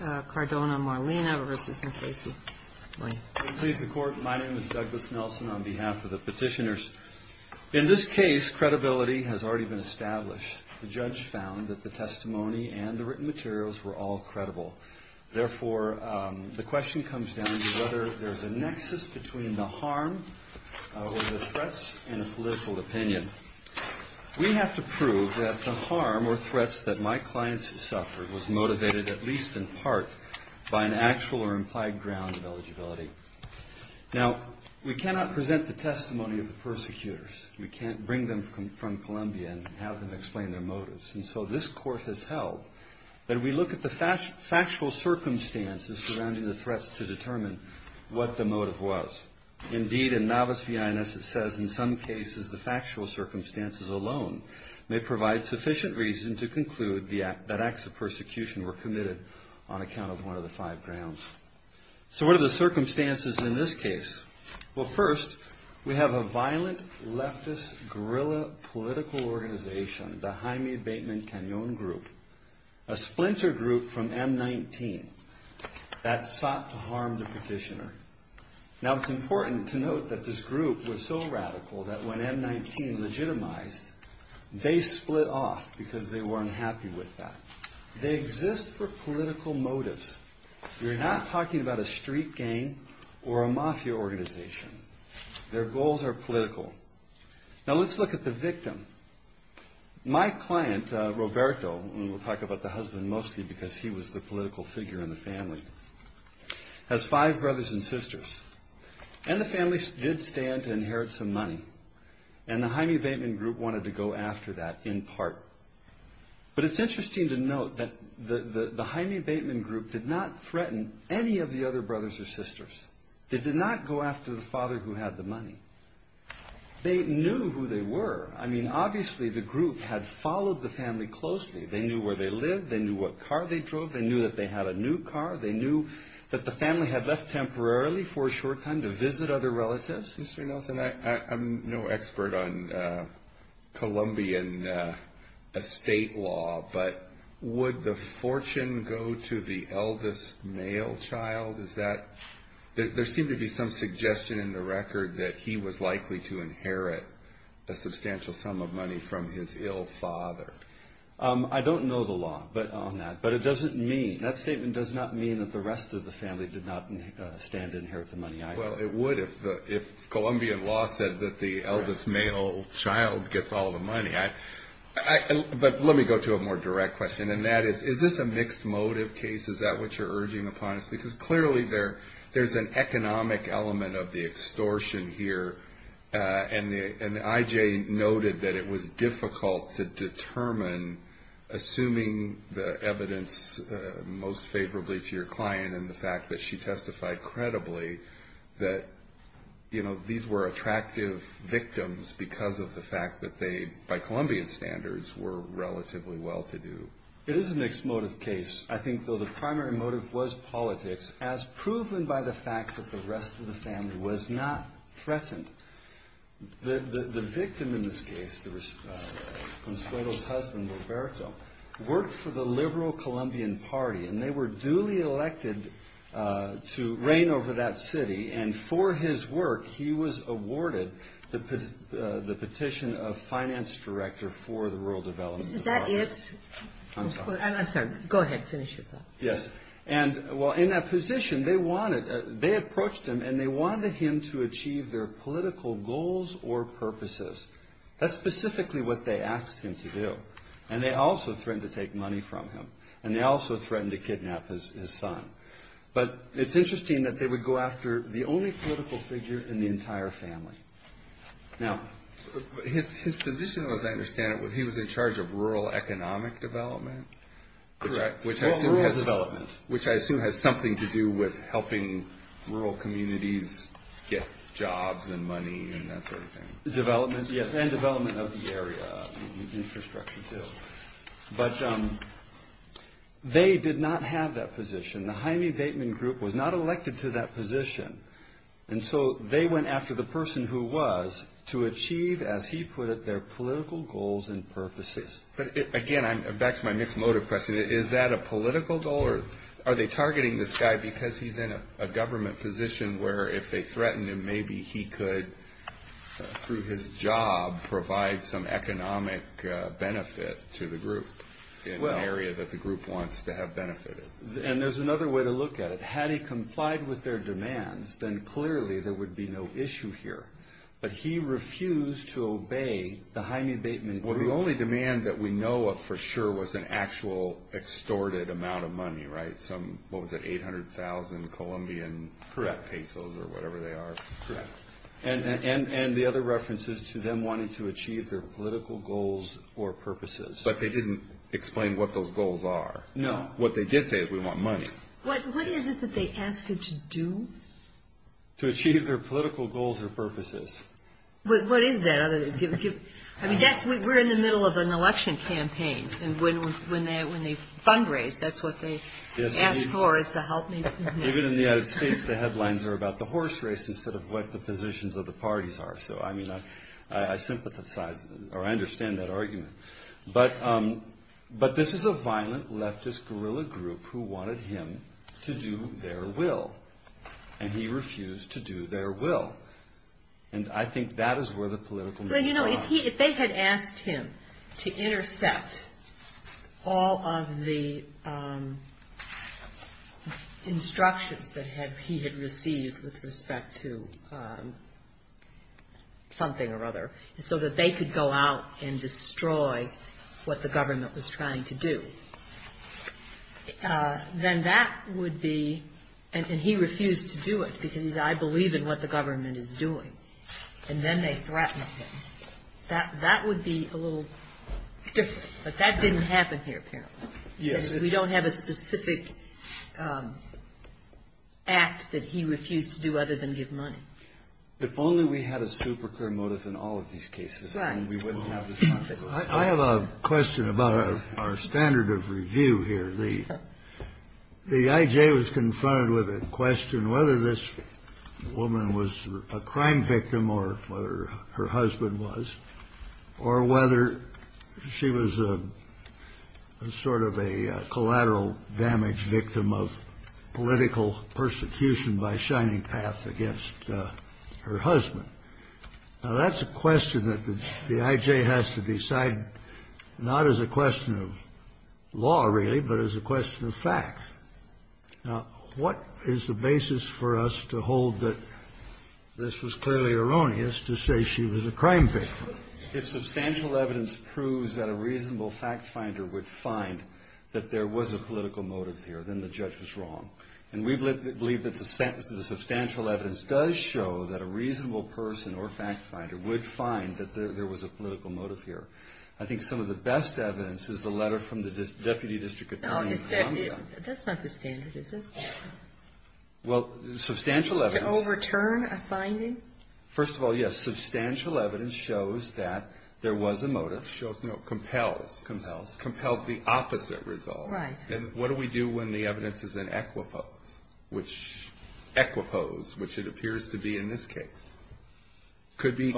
My name is Douglas Nelson on behalf of the petitioners. In this case credibility has already been established. The judge found that the testimony and the written materials were all credible. Therefore, the question comes down to whether there is a nexus between the harm or the threats in a political opinion. We have to prove that the harm or threats that my clients have suffered was motivated at least in part by the credibility of the testimony. In part, by an actual or implied ground of eligibility. Now, we cannot present the testimony of the persecutors. We can't bring them from Columbia and have them explain their motives. And so this court has held that we look at the factual circumstances surrounding the threats to determine what the motive was. Indeed, in novice v. INS it says in some cases the factual circumstances alone may provide sufficient reason to conclude that acts of persecution were committed on account of one of the five grounds. So what are the circumstances in this case? Well first, we have a violent leftist guerrilla political organization, the Jaime Bateman Cañon group. A splinter group from M-19 that sought to harm the petitioner. Now it's important to note that this group was so radical that when M-19 legitimized, they split off because they weren't happy with that. They exist for political motives. We're not talking about a street gang or a mafia organization. Their goals are political. Now let's look at the victim. My client, Roberto, and we'll talk about the husband mostly because he was the political figure in the family, has five brothers and sisters. And the family did stand to inherit some money. And the Jaime Bateman group wanted to go after that in part. But it's interesting to note that the Jaime Bateman group did not threaten any of the other brothers or sisters. They did not go after the father who had the money. They knew who they were. I mean, obviously the group had followed the family closely. They knew where they lived. They knew what car they drove. They knew that they had a new car. They knew that the family had left temporarily for a short time to visit other relatives. Mr. Nelson, I'm no expert on Colombian estate law, but would the fortune go to the eldest male child? Is that – there seemed to be some suggestion in the record that he was likely to inherit a substantial sum of money from his ill father. I don't know the law on that, but it doesn't mean – that statement does not mean that the rest of the family did not stand to inherit the money either. Well, it would if Colombian law said that the eldest male child gets all the money. But let me go to a more direct question. And that is, is this a mixed motive case? Is that what you're urging upon us? Because clearly there's an economic element of the extortion here. And I.J. noted that it was difficult to determine, assuming the evidence most favorably to your client and the fact that she testified credibly that, you know, these were attractive victims because of the fact that they, by Colombian standards, were relatively well-to-do. It is a mixed motive case. I think, though, the primary motive was politics, as proven by the fact that the rest of the family was not threatened. The victim in this case, Consuelo's husband, Roberto, worked for the liberal Colombian party, and they were duly elected to reign over that city. And for his work, he was awarded the petition of finance director for the Rural Development Department. Is that it? I'm sorry. I'm sorry. Go ahead. Finish your thought. Yes. And, well, in that position, they wanted they approached him, and they wanted him to achieve their political goals or purposes. That's specifically what they asked him to do. And they also threatened to take money from him. And they also threatened to kidnap his son. But it's interesting that they would go after the only political figure in the entire family. Now. His position, as I understand it, he was in charge of rural economic development? Correct. Which I assume has something to do with helping rural communities get jobs and money and that sort of thing. Yes. And development of the area. Infrastructure, too. But they did not have that position. The Jaime Bateman group was not elected to that position. And so they went after the person who was to achieve, as he put it, their political goals and purposes. But, again, back to my mixed motive question. Is that a political goal? Or are they targeting this guy because he's in a government position where if they threatened him, maybe he could, through his job, provide some economic benefit to the group in an area that the group wants to have benefited? And there's another way to look at it. Had he complied with their demands, then clearly there would be no issue here. But he refused to obey the Jaime Bateman group. Well, the only demand that we know of for sure was an actual extorted amount of money, right? Some, what was it, 800,000 Colombian pesos or whatever they are? Correct. And the other reference is to them wanting to achieve their political goals or purposes. But they didn't explain what those goals are. No. What they did say is we want money. What is it that they ask you to do? To achieve their political goals or purposes. What is that? I mean, we're in the middle of an election campaign. And when they fundraise, that's what they ask for is the help. Even in the United States, the headlines are about the horse race instead of what the positions of the parties are. So, I mean, I sympathize, or I understand that argument. But this is a violent leftist guerrilla group who wanted him to do their will. And he refused to do their will. And I think that is where the political... Well, you know, if they had asked him to intercept all of the instructions that he had received with respect to something or other so that they could go out and destroy what the government was trying to do, then that would be... And he refused to do it because he said, I believe in what the government is doing. And then they threatened him. That would be a little different. But that didn't happen here, apparently. Yes. Because we don't have a specific act that he refused to do other than give money. If only we had a super clear motive in all of these cases, then we wouldn't have this controversy. I have a question about our standard of review here. The I.J. was confronted with a question whether this woman was a crime victim or whether her husband was, or whether she was sort of a collateral damage victim of political persecution by Shining Path against her husband. Now, that's a question that the I.J. has to decide not as a question of law, really, but as a question of fact. Now, what is the basis for us to hold that this was clearly erroneous to say she was a crime victim? If substantial evidence proves that a reasonable fact finder would find that there was a political motive here, then the judge was wrong. And we believe that the substantial evidence does show that a reasonable person or fact finder would find that there was a political motive here. I think some of the best evidence is the letter from the Deputy District Attorney in Columbia. That's not the standard, is it? Well, substantial evidence... To overturn a finding? First of all, yes. Substantial evidence shows that there was a motive. Shows, no, compels. Compels. Compels the opposite result. Right. And what do we do when the evidence is in equipose, which it appears to be in this case? Could be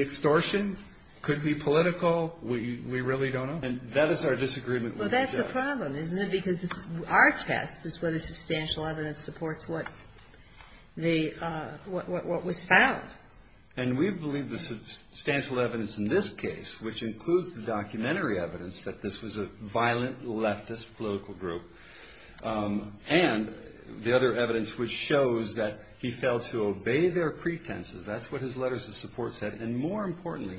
extortion, could be political. We really don't know. And that is our disagreement with the judge. Well, that's the problem, isn't it? Because our test is whether substantial evidence supports what was found. And we believe the substantial evidence in this case, which includes the documentary evidence that this was a violent leftist political group, and the other evidence which shows that he failed to obey their pretenses, that's what his letters of support said. And more importantly,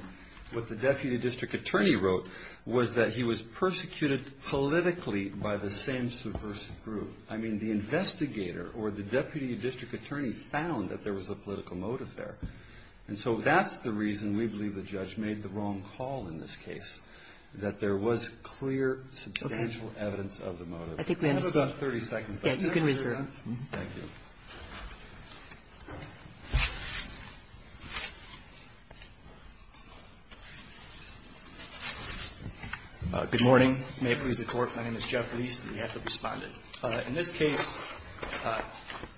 what the Deputy District Attorney wrote was that he was persecuted politically by the same subversive group. I mean, the investigator or the Deputy District Attorney found that there was a political motive there. And so that's the reason we believe the judge made the wrong call in this case, that there was clear substantial evidence of the motive. Okay. I think we understand. I have about 30 seconds left. Yeah, you can reserve. Thank you. Thank you. Good morning. May it please the Court. My name is Jeff Leis, and we have to respond. In this case,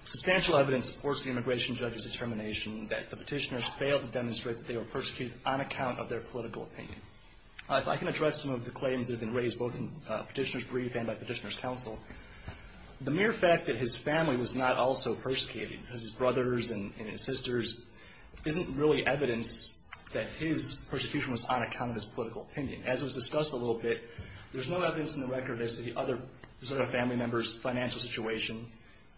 substantial evidence supports the immigration judge's determination that the Petitioner's failed to demonstrate that they were persecuted on account of their political opinion. I can address some of the claims that have been raised both in Petitioner's brief and by Petitioner's counsel. The mere fact that his family was not also persecuted, his brothers and his sisters, isn't really evidence that his persecution was on account of his political opinion. As was discussed a little bit, there's no evidence in the record as to the other family members' financial situation,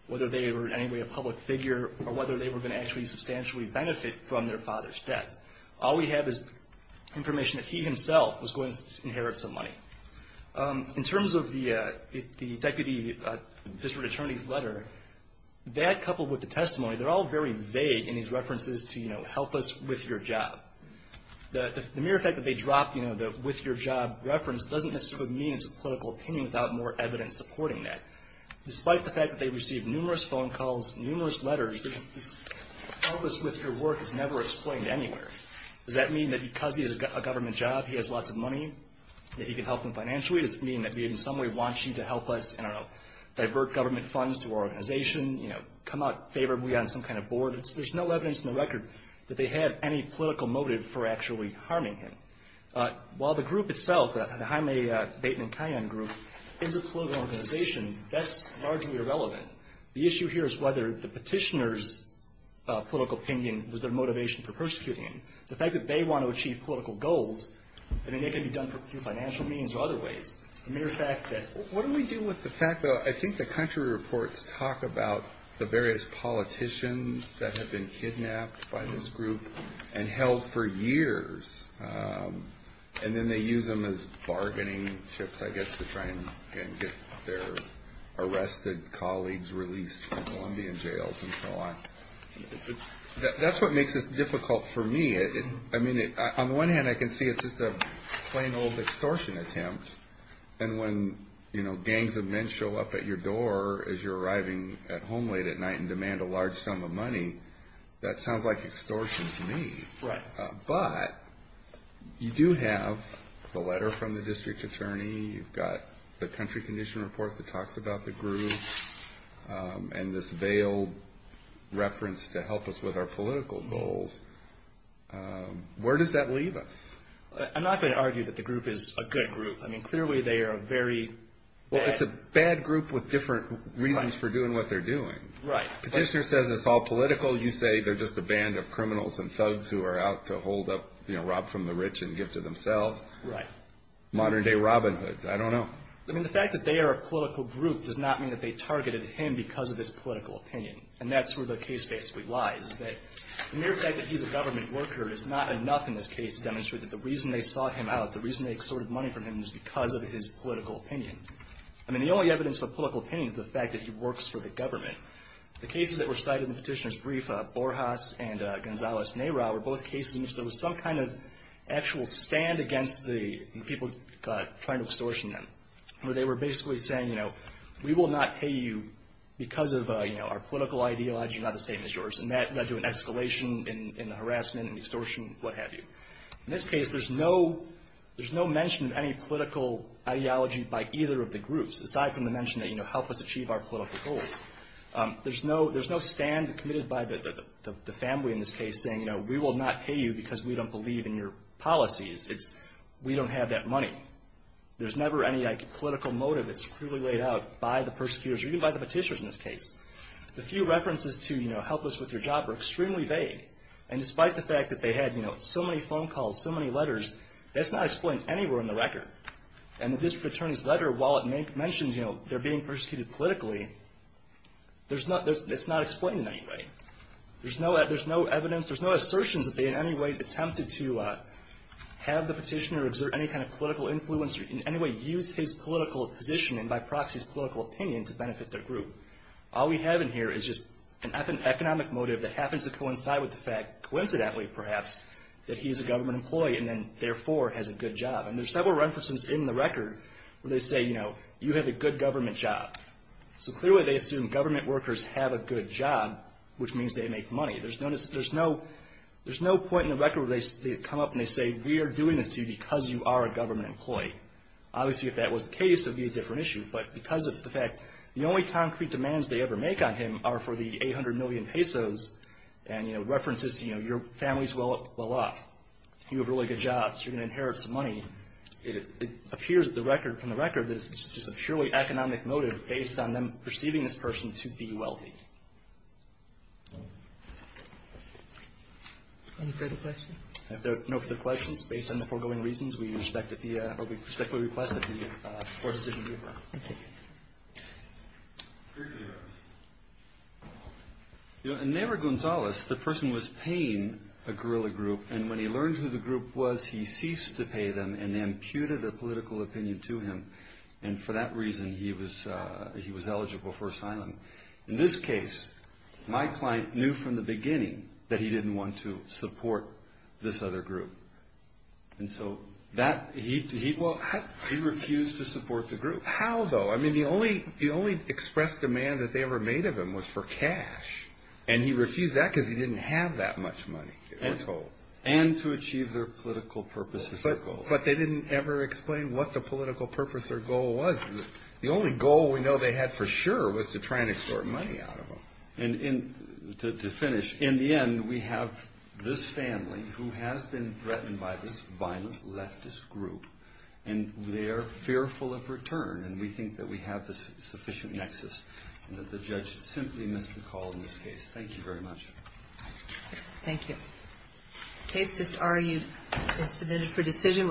whether they were in any way a public figure, or whether they were going to actually substantially benefit from their father's death. All we have is information that he himself was going to inherit some money. In terms of the Deputy District Attorney's letter, that coupled with the testimony, they're all very vague in these references to, you know, help us with your job. The mere fact that they dropped, you know, the with your job reference doesn't necessarily mean it's a political opinion without more evidence supporting that. Despite the fact that they received numerous phone calls, numerous letters, this help us with your work is never explained anywhere. Does that mean that because he has a government job, he has lots of money, that he can help them financially? Does it mean that we in some way want you to help us, I don't know, divert government funds to our organization, you know, come out in favor of we on some kind of board? There's no evidence in the record that they had any political motive for actually harming him. While the group itself, the Jaime Bateman-Cayen group, is a political organization, that's largely irrelevant. The issue here is whether the petitioner's political opinion was their motivation for persecuting him. The fact that they want to achieve political goals, I mean, they can be done through financial means or other ways. The mere fact that — What do we do with the fact that I think the country reports talk about the various politicians that have been kidnapped by this group and held for years, and then they use them as bargaining chips, I guess, to try and get their arrested colleagues released from Colombian jails and so on. That's what makes this difficult for me. I mean, on the one hand, I can see it's just a plain old extortion attempt. And when, you know, gangs of men show up at your door as you're arriving at home late at night and demand a large sum of money, that sounds like extortion to me. Right. But you do have the letter from the district attorney. You've got the country condition report that talks about the group and this veiled reference to help us with our political goals. Where does that leave us? I'm not going to argue that the group is a good group. I mean, clearly they are a very bad — Well, it's a bad group with different reasons for doing what they're doing. Right. The petitioner says it's all political. You say they're just a band of criminals and thugs who are out to hold up, you know, rob from the rich and give to themselves. Right. Modern-day Robin Hoods. I don't know. I mean, the fact that they are a political group does not mean that they targeted him because of his political opinion. And that's where the case basically lies, is that the mere fact that he's a government worker is not enough in this case to demonstrate that the reason they sought him out, the reason they extorted money from him, is because of his political opinion. I mean, the only evidence for political opinion is the fact that he works for the government. The cases that were cited in the petitioner's brief, Borjas and Gonzales-Neira, were both cases in which there was some kind of actual stand against the people trying to extortion them, where they were basically saying, you know, we will not pay you because of our political ideology, not the same as yours. And that led to an escalation in the harassment and extortion, what have you. In this case, there's no mention of any political ideology by either of the groups, aside from the mention that, you know, help us achieve our political goals. There's no stand committed by the family in this case saying, you know, we will not pay you because we don't believe in your policies. It's we don't have that money. There's never any, like, political motive that's clearly laid out by the persecutors, or even by the petitioners in this case. The few references to, you know, help us with your job are extremely vague. And despite the fact that they had, you know, so many phone calls, so many letters, that's not explained anywhere in the record. And the district attorney's letter, while it mentions, you know, they're being persecuted politically, it's not explained in any way. There's no evidence, there's no assertions that they in any way attempted to have the petitioner exert any kind of political influence or in any way use his political position and by proxy his political opinion to benefit their group. All we have in here is just an economic motive that happens to coincide with the fact, coincidentally perhaps, that he's a government employee and then therefore has a good job. And there's several references in the record where they say, you know, you have a good government job. So clearly they assume government workers have a good job, which means they make money. There's no point in the record where they come up and they say, we are doing this to you because you are a government employee. Obviously, if that was the case, it would be a different issue. But because of the fact the only concrete demands they ever make on him are for the 800 million pesos and, you know, references to, you know, your family's well off, you have really good jobs, you're going to inherit some money, it appears from the record that it's just a purely economic motive based on them perceiving this person to be wealthy. Any further questions? No further questions. Based on the foregoing reasons, we respectfully request that the Court decision be approved. Thank you. In Nehru-Gonzalez, the person was paying a guerrilla group, and when he learned who the group was, he ceased to pay them and imputed a political opinion to him. And for that reason, he was eligible for asylum. In this case, my client knew from the beginning that he didn't want to support this other group. And so he refused to support the group. How, though? I mean, the only expressed demand that they ever made of him was for cash. And he refused that because he didn't have that much money, we're told. And to achieve their political purposes or goals. But they didn't ever explain what the political purpose or goal was. The only goal we know they had for sure was to try and extort money out of him. And to finish, in the end, we have this family who has been threatened by this violent leftist group, and they are fearful of return, and we think that we have the sufficient nexus and that the judge should simply miss the call in this case. Thank you very much. Thank you. The case is submitted for decision.